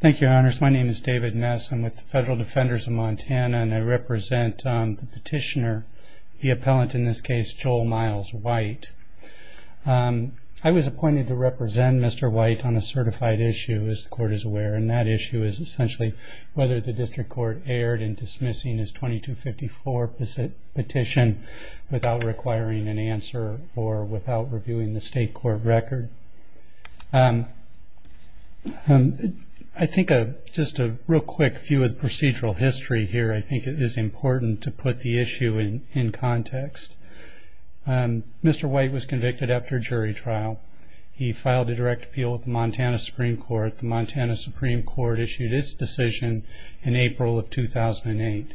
Thank you, Your Honors. My name is David Ness. I'm with the Federal Defenders of Montana, and I represent the petitioner, the appellant in this case, Joel Miles White. I was appointed to represent Mr. White on a certified issue, as the Court is aware, and that issue is essentially whether the District Court erred in dismissing his 2254 petition without requiring an answer or without reviewing the State Court record. I think just a real quick view of the procedural history here, I think it is important to put the issue in context. Mr. White was convicted after a jury trial. He filed a direct appeal with the Montana Supreme Court. The Montana Supreme Court issued its decision in April of 2008.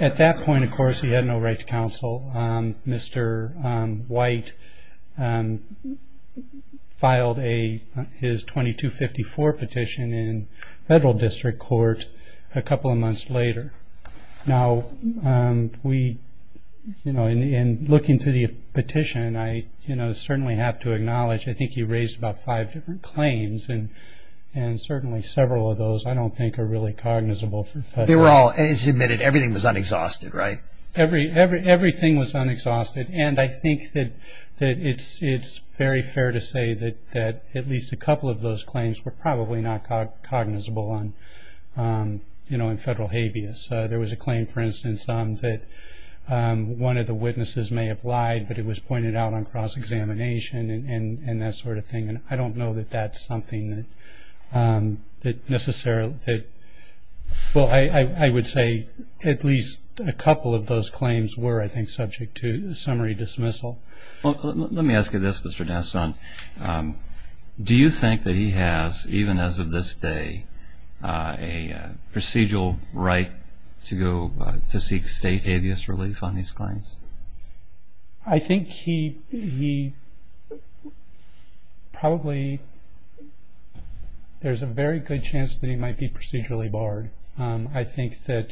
At that point, of course, he had no right to counsel. Mr. White filed his 2254 petition in Federal District Court a couple of months later. Now, in looking through the petition, I certainly have to acknowledge I think he raised about five different claims, and certainly several of those I don't think are really cognizable. They were all, as admitted, everything was unexhausted, right? Everything was unexhausted, and I think that it's very fair to say that at least a couple of those claims were probably not cognizable in Federal habeas. There was a claim, for instance, that one of the witnesses may have lied, but it was pointed out on cross-examination and that sort of thing. I don't know that that's something that necessarily – well, I would say at least a couple of those claims were, I think, subject to summary dismissal. Well, let me ask you this, Mr. Nasson. Do you think that he has, even as of this day, a procedural right to seek state habeas relief on these claims? I think he probably – there's a very good chance that he might be procedurally barred. I think that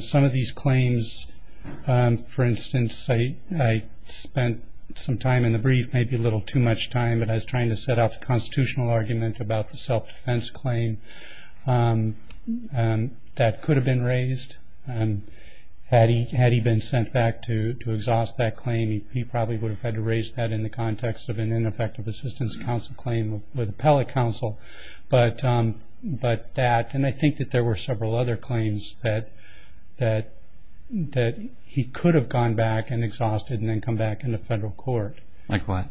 some of these claims – for instance, I spent some time in the brief, maybe a little too much time, but I was trying to set out the constitutional argument about the self-defense claim that could have been raised. Had he been sent back to exhaust that claim, he probably would have had to raise that in the context of an ineffective assistance counsel claim with appellate counsel, but that – and I think that there were several other claims that he could have gone back and exhausted and then come back into Federal court. Like what?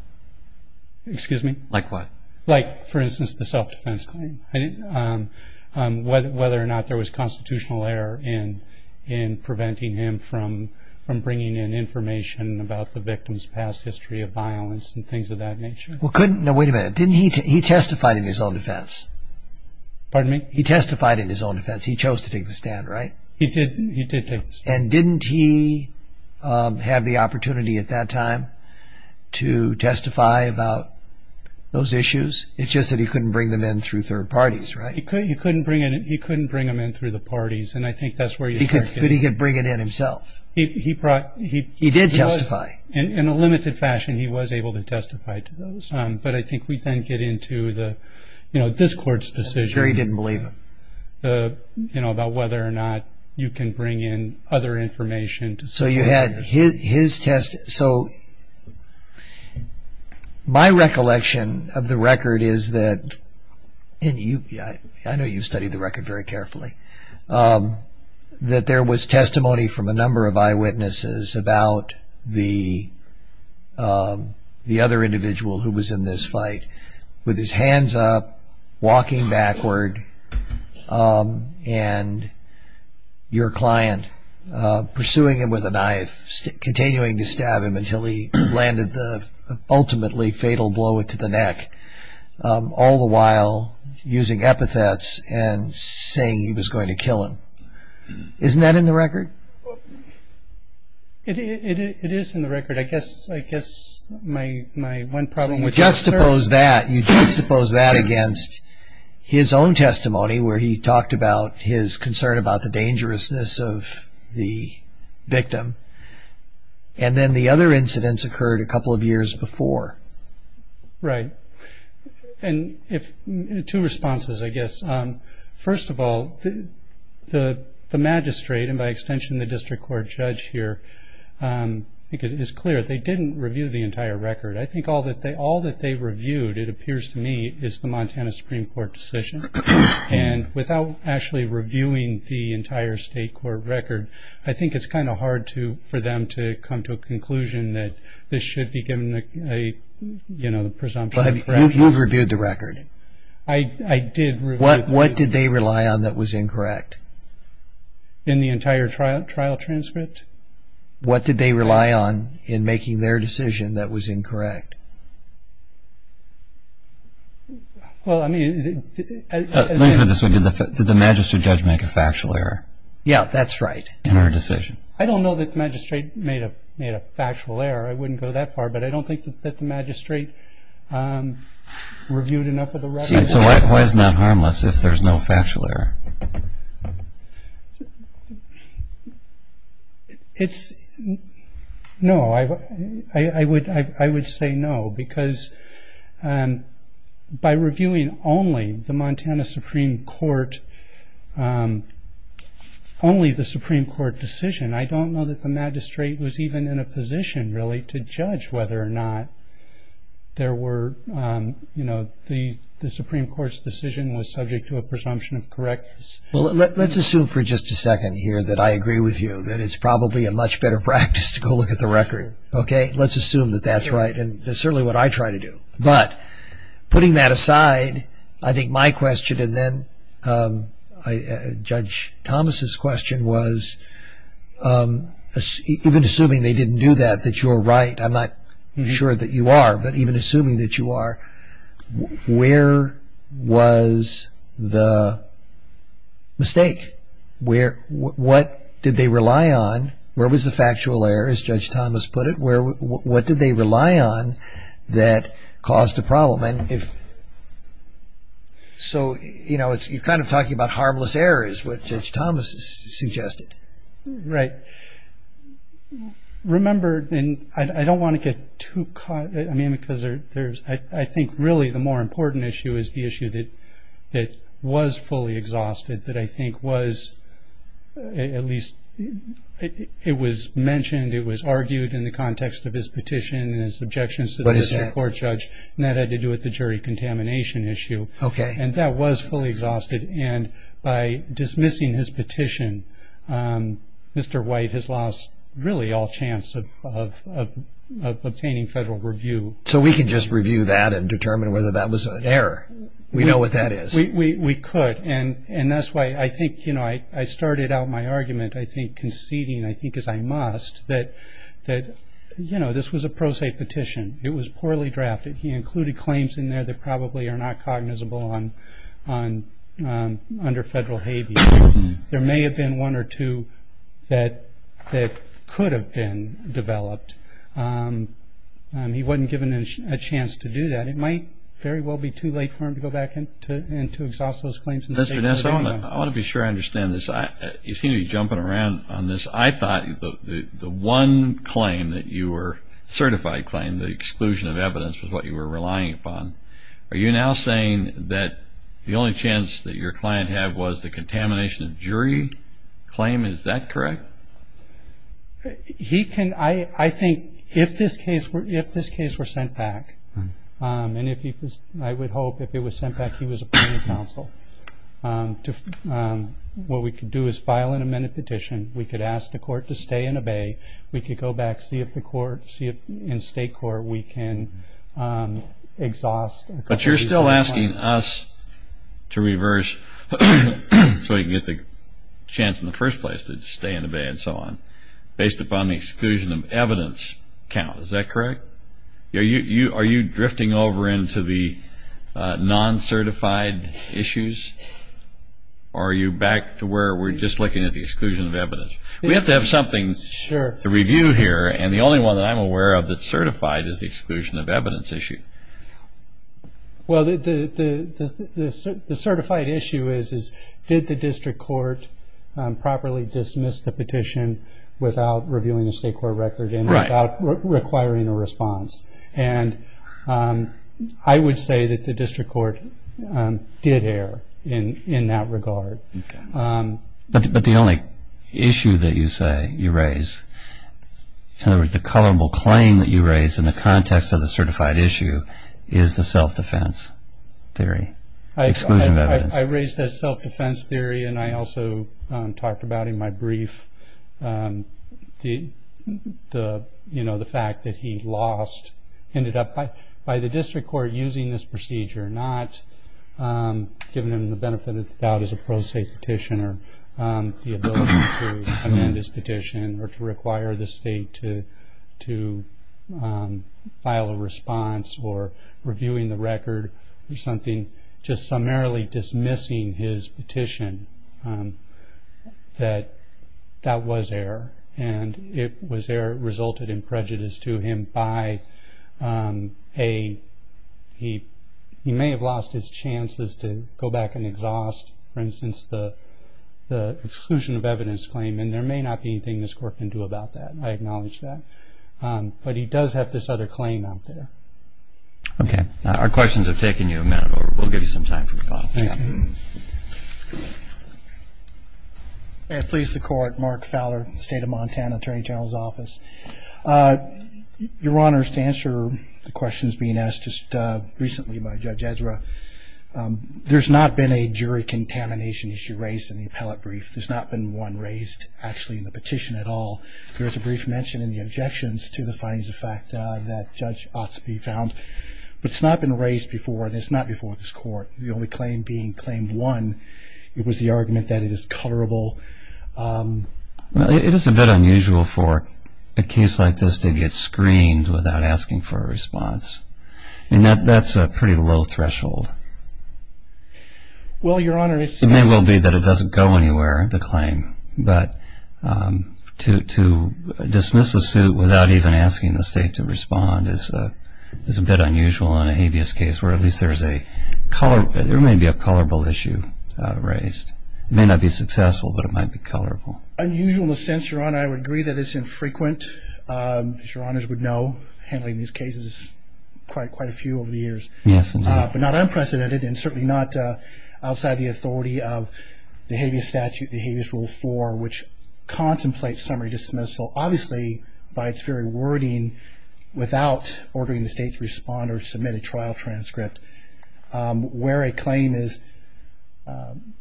Excuse me? Like what? Like, for instance, the self-defense claim. Whether or not there was constitutional error in preventing him from bringing in information about the victim's past history of violence and things of that nature. Well, couldn't – no, wait a minute. Didn't he – he testified in his own defense. Pardon me? He testified in his own defense. He chose to take the stand, right? He did take the stand. And didn't he have the opportunity at that time to testify about those issues? It's just that he couldn't bring them in through third parties, right? He couldn't bring them in through the parties, and I think that's where you start getting – But he could bring it in himself. He brought – he was – He did testify. In a limited fashion, he was able to testify to those. But I think we then get into the, you know, this Court's decision. I'm sure he didn't believe him. You know, about whether or not you can bring in other information to – So you had his – so my recollection of the record is that – and I know you've studied the record very carefully – that there was testimony from a number of eyewitnesses about the other individual who was in this fight with his hands up, walking backward, and your client pursuing him with a knife, continuing to stab him until he landed the ultimately fatal blow to the neck, all the while using epithets and saying he was going to kill him. Isn't that in the record? It is in the record. I guess my one problem with this – You juxtapose that. You juxtapose that against his own testimony, where he talked about his concern about the dangerousness of the victim, and then the other incidents occurred a couple of years before. Right. And if – two responses, I guess. First of all, the magistrate, and by extension the district court judge here, I think it is clear they didn't review the entire record. I think all that they reviewed, it appears to me, is the Montana Supreme Court decision. And without actually reviewing the entire state court record, I think it's kind of hard for them to come to a conclusion that this should be given a presumption of correctness. But you've reviewed the record. I did review the record. What did they rely on that was incorrect? In the entire trial transcript? What did they rely on in making their decision that was incorrect? Well, I mean – Let me put it this way. Did the magistrate judge make a factual error? Yeah, that's right. In our decision? I don't know that the magistrate made a factual error. I wouldn't go that far. But I don't think that the magistrate reviewed enough of the record. So why isn't that harmless if there's no factual error? No, I would say no, because by reviewing only the Montana Supreme Court, only the Supreme Court decision, I don't know that the magistrate was even in a position, really, to judge whether or not there were, you know, the Supreme Court's decision was subject to a presumption of correctness. Well, let's assume for just a second here that I agree with you, that it's probably a much better practice to go look at the record. Okay? Let's assume that that's right. And that's certainly what I try to do. But putting that aside, I think my question, and then Judge Thomas' question was, even assuming they didn't do that, that you're right, I'm not sure that you are, but even assuming that you are, where was the mistake? What did they rely on? Where was the factual error, as Judge Thomas put it? What did they rely on that caused the problem? So, you know, you're kind of talking about harmless errors, what Judge Thomas suggested. Right. Remember, and I don't want to get too caught, I mean, because there's, I think, really, the more important issue is the issue that was fully exhausted, that I think was, at least, it was mentioned, it was argued in the context of his petition and his objections to the jury contamination issue. Okay. And that was fully exhausted. And by dismissing his petition, Mr. White has lost, really, all chance of obtaining federal review. So we can just review that and determine whether that was an error. We know what that is. We could. And that's why I think, you know, I started out my argument, I think, conceding, I think, as I must, that, you know, this was a pro se petition. It was poorly drafted. He included claims in there that probably are not cognizable under federal habeas. There may have been one or two that could have been developed. He wasn't given a chance to do that. It might very well be too late for him to go back and to exhaust those claims and statements. Vanessa, I want to be sure I understand this. You seem to be jumping around on this. I thought the one claim that you were, certified claim, the exclusion of evidence, was what you were relying upon. Are you now saying that the only chance that your client had was the contamination of jury claim? Is that correct? He can, I think, if this case were sent back, and if he was, I would hope if it was sent back he was appointed counsel, what we could do is file an amended petition. We could ask the court to stay and obey. We could go back, see if the court, see if in state court we can exhaust. But you're still asking us to reverse, so we can get the chance in the first place to stay and obey and so on, based upon the exclusion of evidence count. Is that correct? Are you drifting over into the non-certified issues, or are you back to where we're just looking at the exclusion of evidence? We have to have something to review here, and the only one that I'm aware of that's certified is the exclusion of evidence issue. Well, the certified issue is, did the district court properly dismiss the petition without reviewing the state court record and without requiring a response? And I would say that the district court did err in that regard. But the only issue that you say you raise, in other words the culpable claim that you raise in the context of the certified issue, is the self-defense theory, exclusion of evidence. I raised that self-defense theory, and I also talked about in my brief the fact that he lost, ended up by the district court using this procedure, not giving him the benefit of the doubt as a pro se petitioner, the ability to amend his petition or to require the state to file a response or reviewing the record or something, just summarily dismissing his petition. That was error, and it resulted in prejudice to him by a, he may have lost his chances to go back and exhaust, for instance, the exclusion of evidence claim, and there may not be anything this court can do about that. I acknowledge that. But he does have this other claim out there. Okay. Our questions have taken you a minute, or we'll give you some time for thought. Thank you. Please, the court. Mark Fowler, State of Montana, Attorney General's Office. Your Honor, to answer the questions being asked just recently by Judge Ezra, there's not been a jury contamination issue raised in the appellate brief. There's not been one raised, actually, in the petition at all. There is a brief mention in the objections to the findings of fact that Judge Otsopie found, but it's not been raised before, and it's not before this court. The only claim being Claim 1. It was the argument that it is colorable. It is a bit unusual for a case like this to get screened without asking for a response. I mean, that's a pretty low threshold. Well, Your Honor, it's... It may well be that it doesn't go anywhere, the claim, but to dismiss a suit without even asking the state to respond is a bit unusual in a habeas case, where at least there may be a colorable issue raised. It may not be successful, but it might be colorable. Unusual in the sense, Your Honor, I would agree that it's infrequent. As Your Honors would know, handling these cases, quite a few over the years. Yes, indeed. But not unprecedented, and certainly not outside the authority of the habeas statute, the habeas rule 4, which contemplates summary dismissal, obviously by its very wording, without ordering the state to respond or submit a trial transcript, where a claim is,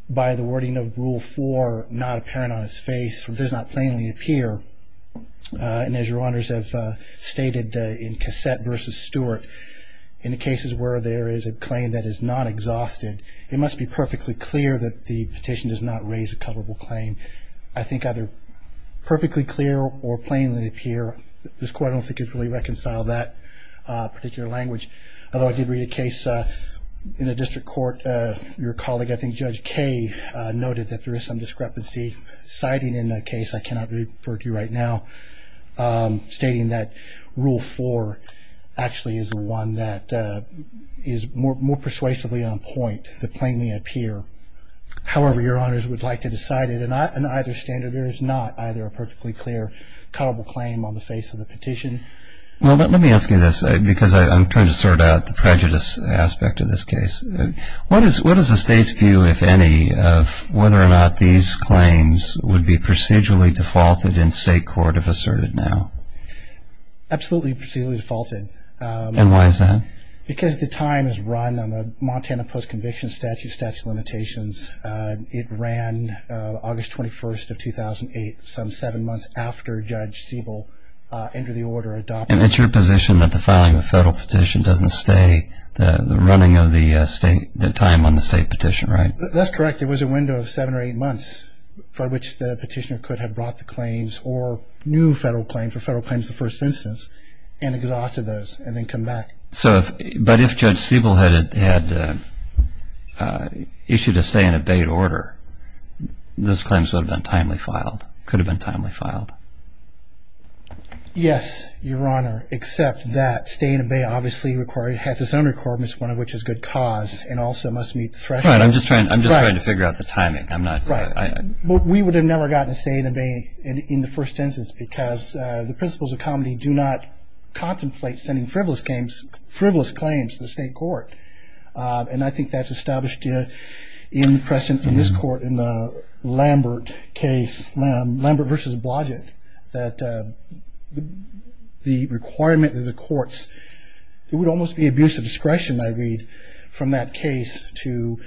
by the wording of Rule 4, not apparent on its face or does not plainly appear. And as Your Honors have stated in Cassette v. Stewart, in the cases where there is a claim that is not exhausted, it must be perfectly clear that the petition does not raise a colorable claim. I think either perfectly clear or plainly appear. This Court, I don't think, has really reconciled that particular language. Although I did read a case in the district court, your colleague, I think Judge Kay, noted that there is some discrepancy, citing in that case, I cannot refer to you right now, stating that Rule 4 actually is one that is more persuasively on point than plainly appear. However, Your Honors would like to decide it. On either standard, there is not either a perfectly clear colorable claim on the face of the petition. Well, let me ask you this, because I'm trying to sort out the prejudice aspect of this case. What is the state's view, if any, of whether or not these claims would be procedurally defaulted in state court if asserted now? Absolutely procedurally defaulted. And why is that? Because the time is run on the Montana Post-Conviction Statute, statute of limitations. It ran August 21st of 2008, some seven months after Judge Siebel entered the order adopting it. And it's your position that the filing of a federal petition doesn't stay the running of the state, the time on the state petition, right? That's correct. It was a window of seven or eight months for which the petitioner could have brought the claims or new federal claim for federal claims in the first instance and exhausted those and then come back. But if Judge Siebel had issued a stay-in-abate order, those claims would have been timely filed, could have been timely filed. Yes, Your Honor, except that stay-in-abate obviously has its own requirements, one of which is good cause and also must meet the threshold. I'm just trying to figure out the timing. We would have never gotten a stay-in-abate in the first instance because the principles of comedy do not contemplate sending frivolous claims to the state court. And I think that's established in the precedent in this court in the Lambert case, Lambert v. Blodgett, that the requirement of the courts, there would almost be abuse of discretion, I read, from that case to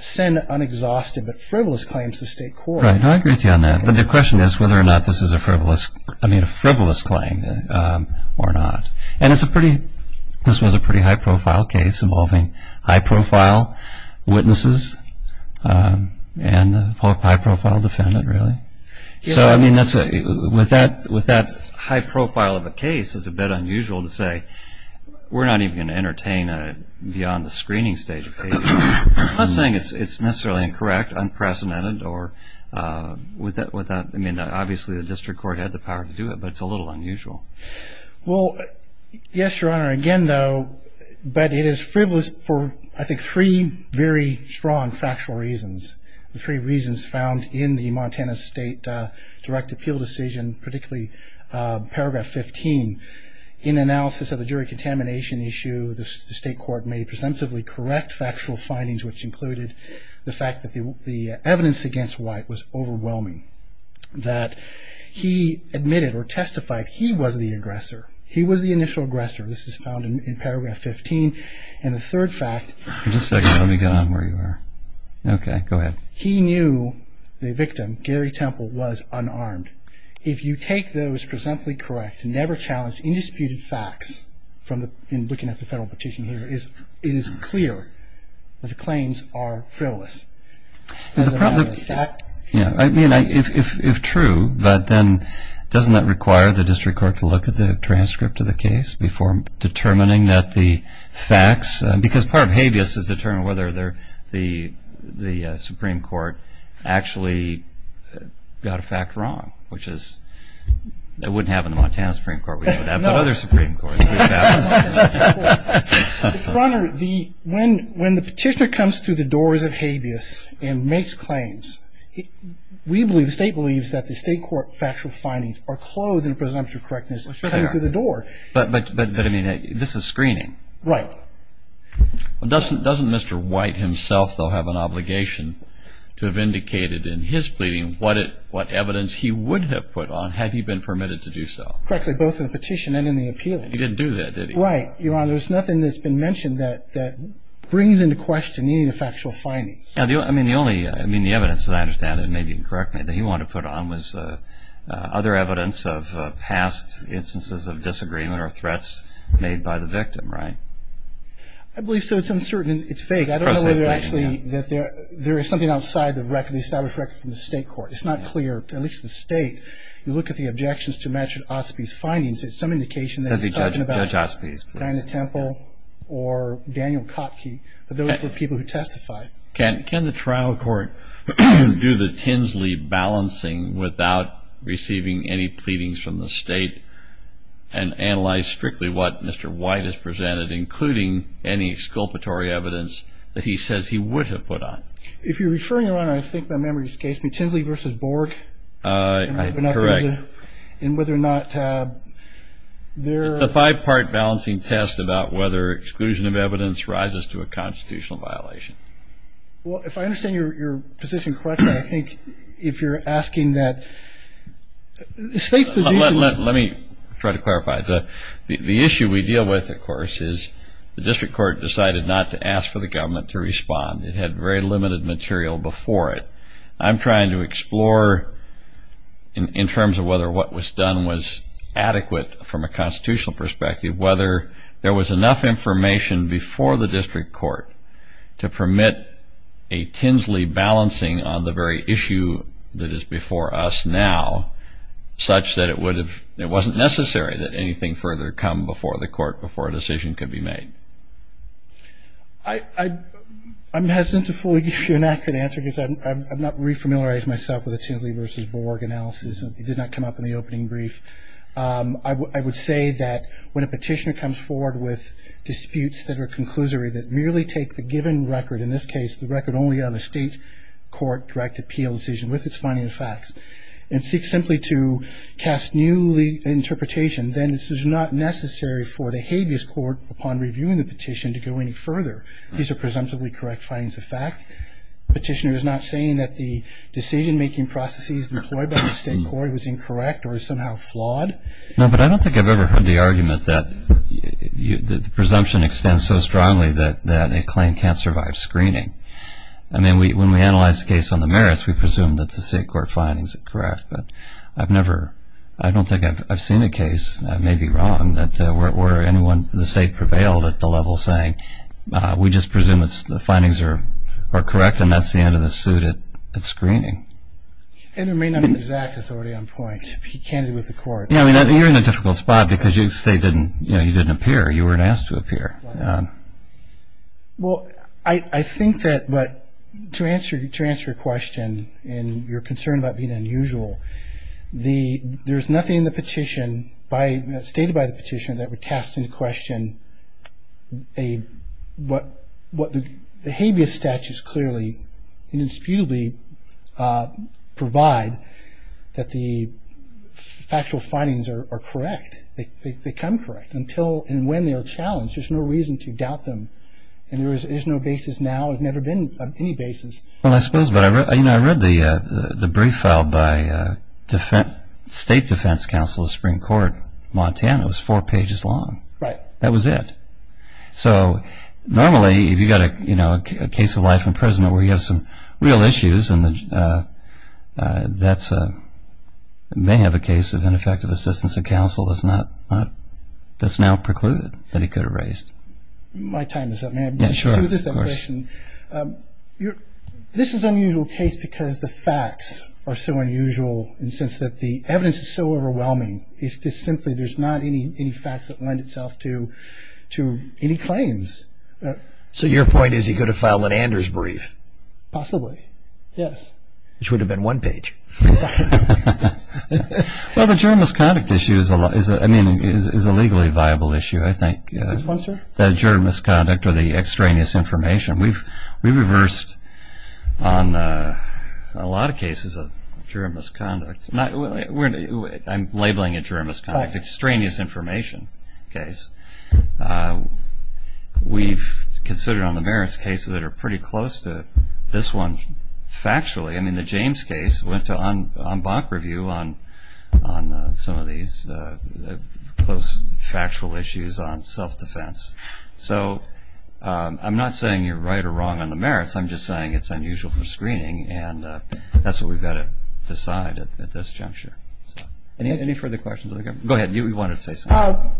send unexhausted but frivolous claims to state court. Right. No, I agree with you on that. But the question is whether or not this is a frivolous claim or not. And this was a pretty high-profile case involving high-profile witnesses and a high-profile defendant, really. So, I mean, with that high profile of a case, it's a bit unusual to say, we're not even going to entertain a beyond-the-screening-state case. I'm not saying it's necessarily incorrect, unprecedented, or with that, I mean, obviously the district court had the power to do it, but it's a little unusual. Well, yes, Your Honor, again, though, but it is frivolous for, I think, three very strong factual reasons, the three reasons found in the Montana State Direct Appeal decision, particularly Paragraph 15, in analysis of the jury contamination issue, the state court made presumptively correct factual findings, which included the fact that the evidence against White was overwhelming, that he admitted or testified he was the aggressor, he was the initial aggressor. This is found in Paragraph 15. And the third fact... Just a second, let me get on where you are. Okay, go ahead. He knew the victim, Gary Temple, was unarmed. If you take those presumptively correct, never-challenged, indisputed facts, in looking at the federal petition here, it is clear that the claims are frivolous. Is that a fact? I mean, if true, but then doesn't that require the district court to look at the transcript of the case before determining that the facts, because part of habeas is to determine whether the Supreme Court actually got a fact wrong, which is, it wouldn't happen in the Montana Supreme Court, it would happen in other Supreme Courts. Your Honor, when the petitioner comes through the doors of habeas and makes claims, we believe, the state believes, that the state court factual findings are clothed in presumptive correctness coming through the door. But, I mean, this is screening. Right. Doesn't Mr. White himself, though, have an obligation to have indicated in his pleading what evidence he would have put on had he been permitted to do so? Correctly, both in the petition and in the appeal. He didn't do that, did he? Right. Your Honor, there's nothing that's been mentioned that brings into question any of the factual findings. I mean, the only, I mean, the evidence, as I understand it, maybe you can correct me, that he wanted to put on was other evidence of past instances of disagreement or threats made by the victim, right? I believe so. It's uncertain. It's fake. I don't know whether actually that there is something outside the established record from the state court. It's not clear, at least the state. You look at the objections to Matthew Osby's findings, it's some indication that he's talking about Diana Temple or Daniel Kotke, but those were people who testified. Can the trial court do the Tinsley balancing without receiving any pleadings from the state and analyze strictly what Mr. White has presented, including any exculpatory evidence that he says he would have put on? If you're referring to, Your Honor, I think my memory escapes me, Tinsley v. Borg? Correct. And whether or not there are ---- It's a five-part balancing test about whether exclusion of evidence rises to a constitutional violation. Well, if I understand your position correctly, I think if you're asking that the state's position ---- Well, let me try to clarify. The issue we deal with, of course, is the district court decided not to ask for the government to respond. It had very limited material before it. I'm trying to explore in terms of whether what was done was adequate from a constitutional perspective, whether there was enough information before the district court to permit a Tinsley balancing on the very issue that is before us now such that it wasn't necessary that anything further come before the court, before a decision could be made. I'm hesitant to fully give you an accurate answer because I've not re-familiarized myself with a Tinsley v. Borg analysis. It did not come up in the opening brief. I would say that when a petitioner comes forward with disputes that are conclusory, that merely take the given record, in this case the record only on the state court-directed appeal decision with its finding of facts, and seek simply to cast new interpretation, then this is not necessary for the habeas court, upon reviewing the petition, to go any further. These are presumptively correct findings of fact. The petitioner is not saying that the decision-making processes employed by the state court was incorrect or somehow flawed. No, but I don't think I've ever heard the argument that the presumption extends so strongly that a claim can't survive screening. I mean, when we analyze the case on the merits, we presume that the state court findings are correct, but I've never, I don't think I've seen a case, I may be wrong, where the state prevailed at the level saying we just presume the findings are correct and that's the end of the suit at screening. And there may not be exact authority on point. He can't be with the court. Yeah, I mean, you're in a difficult spot because you say you didn't appear, you weren't asked to appear. Well, I think that, but to answer your question and your concern about being unusual, there's nothing in the petition, stated by the petitioner, that would cast into question what the habeas statute does clearly and indisputably provide that the factual findings are correct. They come correct. Until and when they are challenged, there's no reason to doubt them. And there's no basis now, there's never been any basis. Well, I suppose, but I read the brief filed by State Defense Counsel of the Supreme Court, Montana. It was four pages long. Right. That was it. So normally if you've got a case of life in prison where you have some real issues and that may have a case of ineffective assistance of counsel that's now precluded that he could have raised. My time is up. Yes, sure. This is an unusual case because the facts are so unusual in the sense that the evidence is so overwhelming. It's just simply there's not any facts that lend itself to any claims. So your point is he could have filed an Anders brief? Possibly, yes. Which would have been one page. Well, the juror misconduct issue is a legally viable issue, I think. Which one, sir? The juror misconduct or the extraneous information. We reversed on a lot of cases a juror misconduct. I'm labeling it juror misconduct. Extraneous information case. We've considered on the merits cases that are pretty close to this one factually. I mean, the James case went to en banc review on some of these close factual issues on self-defense. So I'm not saying you're right or wrong on the merits. I'm just saying it's unusual for screening, and that's what we've got to decide at this juncture. Any further questions? Go ahead. You wanted to say something.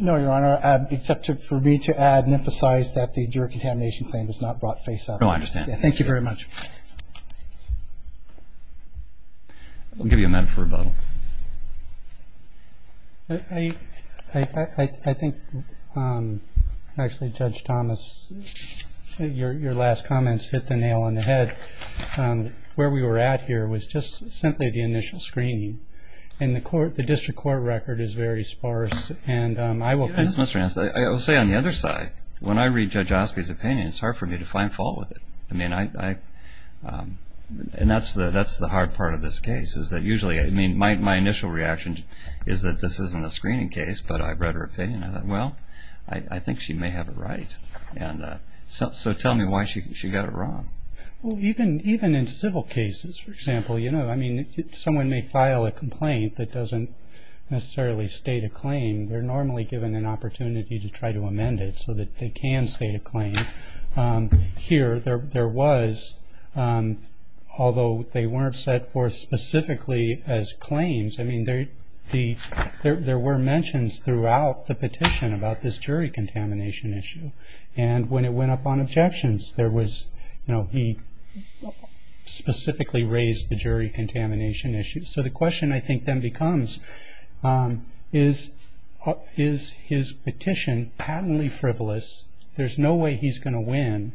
No, Your Honor, except for me to add and emphasize that the juror contamination claim was not brought face up. No, I understand. Thank you very much. We'll give you a minute for rebuttal. I think actually Judge Thomas, your last comments hit the nail on the head. Where we were at here was just simply the initial screening. And the district court record is very sparse. I will say on the other side, when I read Judge Osby's opinion, it's hard for me to find fault with it. And that's the hard part of this case, is that usually my initial reaction is that this isn't a screening case, but I read her opinion and I thought, well, I think she may have it right. So tell me why she got it wrong. Well, even in civil cases, for example, someone may file a complaint that doesn't necessarily state a claim. They're normally given an opportunity to try to amend it so that they can state a claim. Here there was, although they weren't set forth specifically as claims, I mean there were mentions throughout the petition about this jury contamination issue. And when it went up on objections, there was, you know, he specifically raised the jury contamination issue. So the question I think then becomes, is his petition patently frivolous? There's no way he's going to win.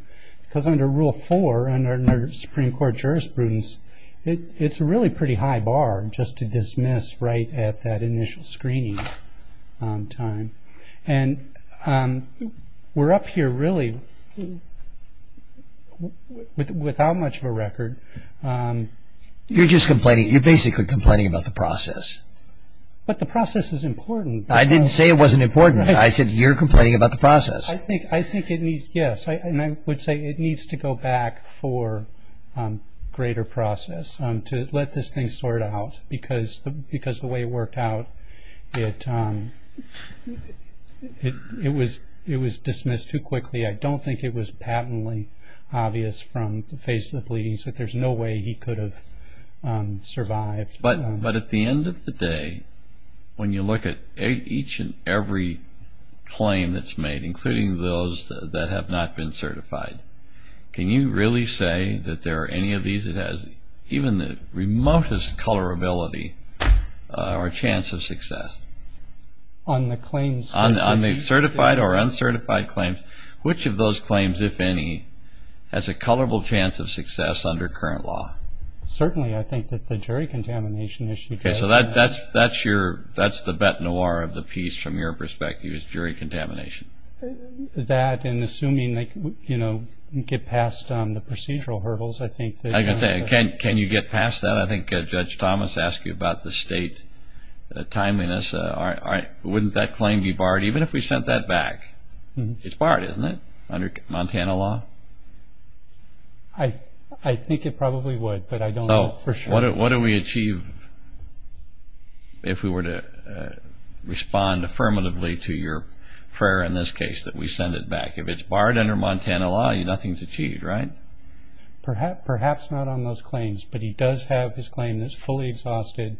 Because under Rule 4 under Supreme Court jurisprudence, it's a really pretty high bar just to dismiss right at that initial screening time. And we're up here really without much of a record. You're just complaining. You're basically complaining about the process. But the process is important. I didn't say it wasn't important. I said you're complaining about the process. I think it needs, yes, and I would say it needs to go back for greater process to let this thing sort out. Because the way it worked out, it was dismissed too quickly. I don't think it was patently obvious from the face of the pleadings that there's no way he could have survived. But at the end of the day, when you look at each and every claim that's made, including those that have not been certified, can you really say that there are any of these that has even the remotest colorability or chance of success? On the claims? On the certified or uncertified claims, which of those claims, if any, has a colorable chance of success under current law? Certainly. I think that the jury contamination issue does. Okay. So that's the bete noire of the piece from your perspective, is jury contamination. That and assuming they get past the procedural hurdles, I think. I can say, can you get past that? I think Judge Thomas asked you about the state timeliness. Wouldn't that claim be barred even if we sent that back? It's barred, isn't it, under Montana law? I think it probably would, but I don't know for sure. So what do we achieve if we were to respond affirmatively to your prayer in this case that we send it back? If it's barred under Montana law, nothing's achieved, right? Perhaps not on those claims, but he does have his claim that's fully exhausted.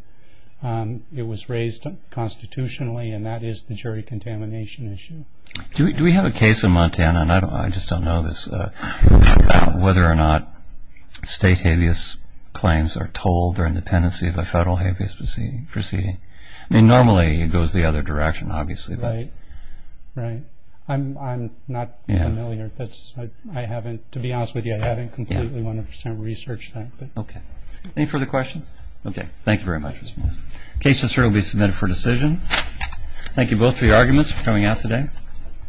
It was raised constitutionally, and that is the jury contamination issue. Do we have a case in Montana, and I just don't know this, about whether or not state habeas claims are told or in the tendency of a federal habeas proceeding? I mean, normally it goes the other direction, obviously. Right. Right. I'm not familiar. I haven't, to be honest with you, I haven't completely 100 percent researched that. Okay. Any further questions? Okay. Thank you very much. The case will certainly be submitted for decision. Thank you both for your arguments for coming out today.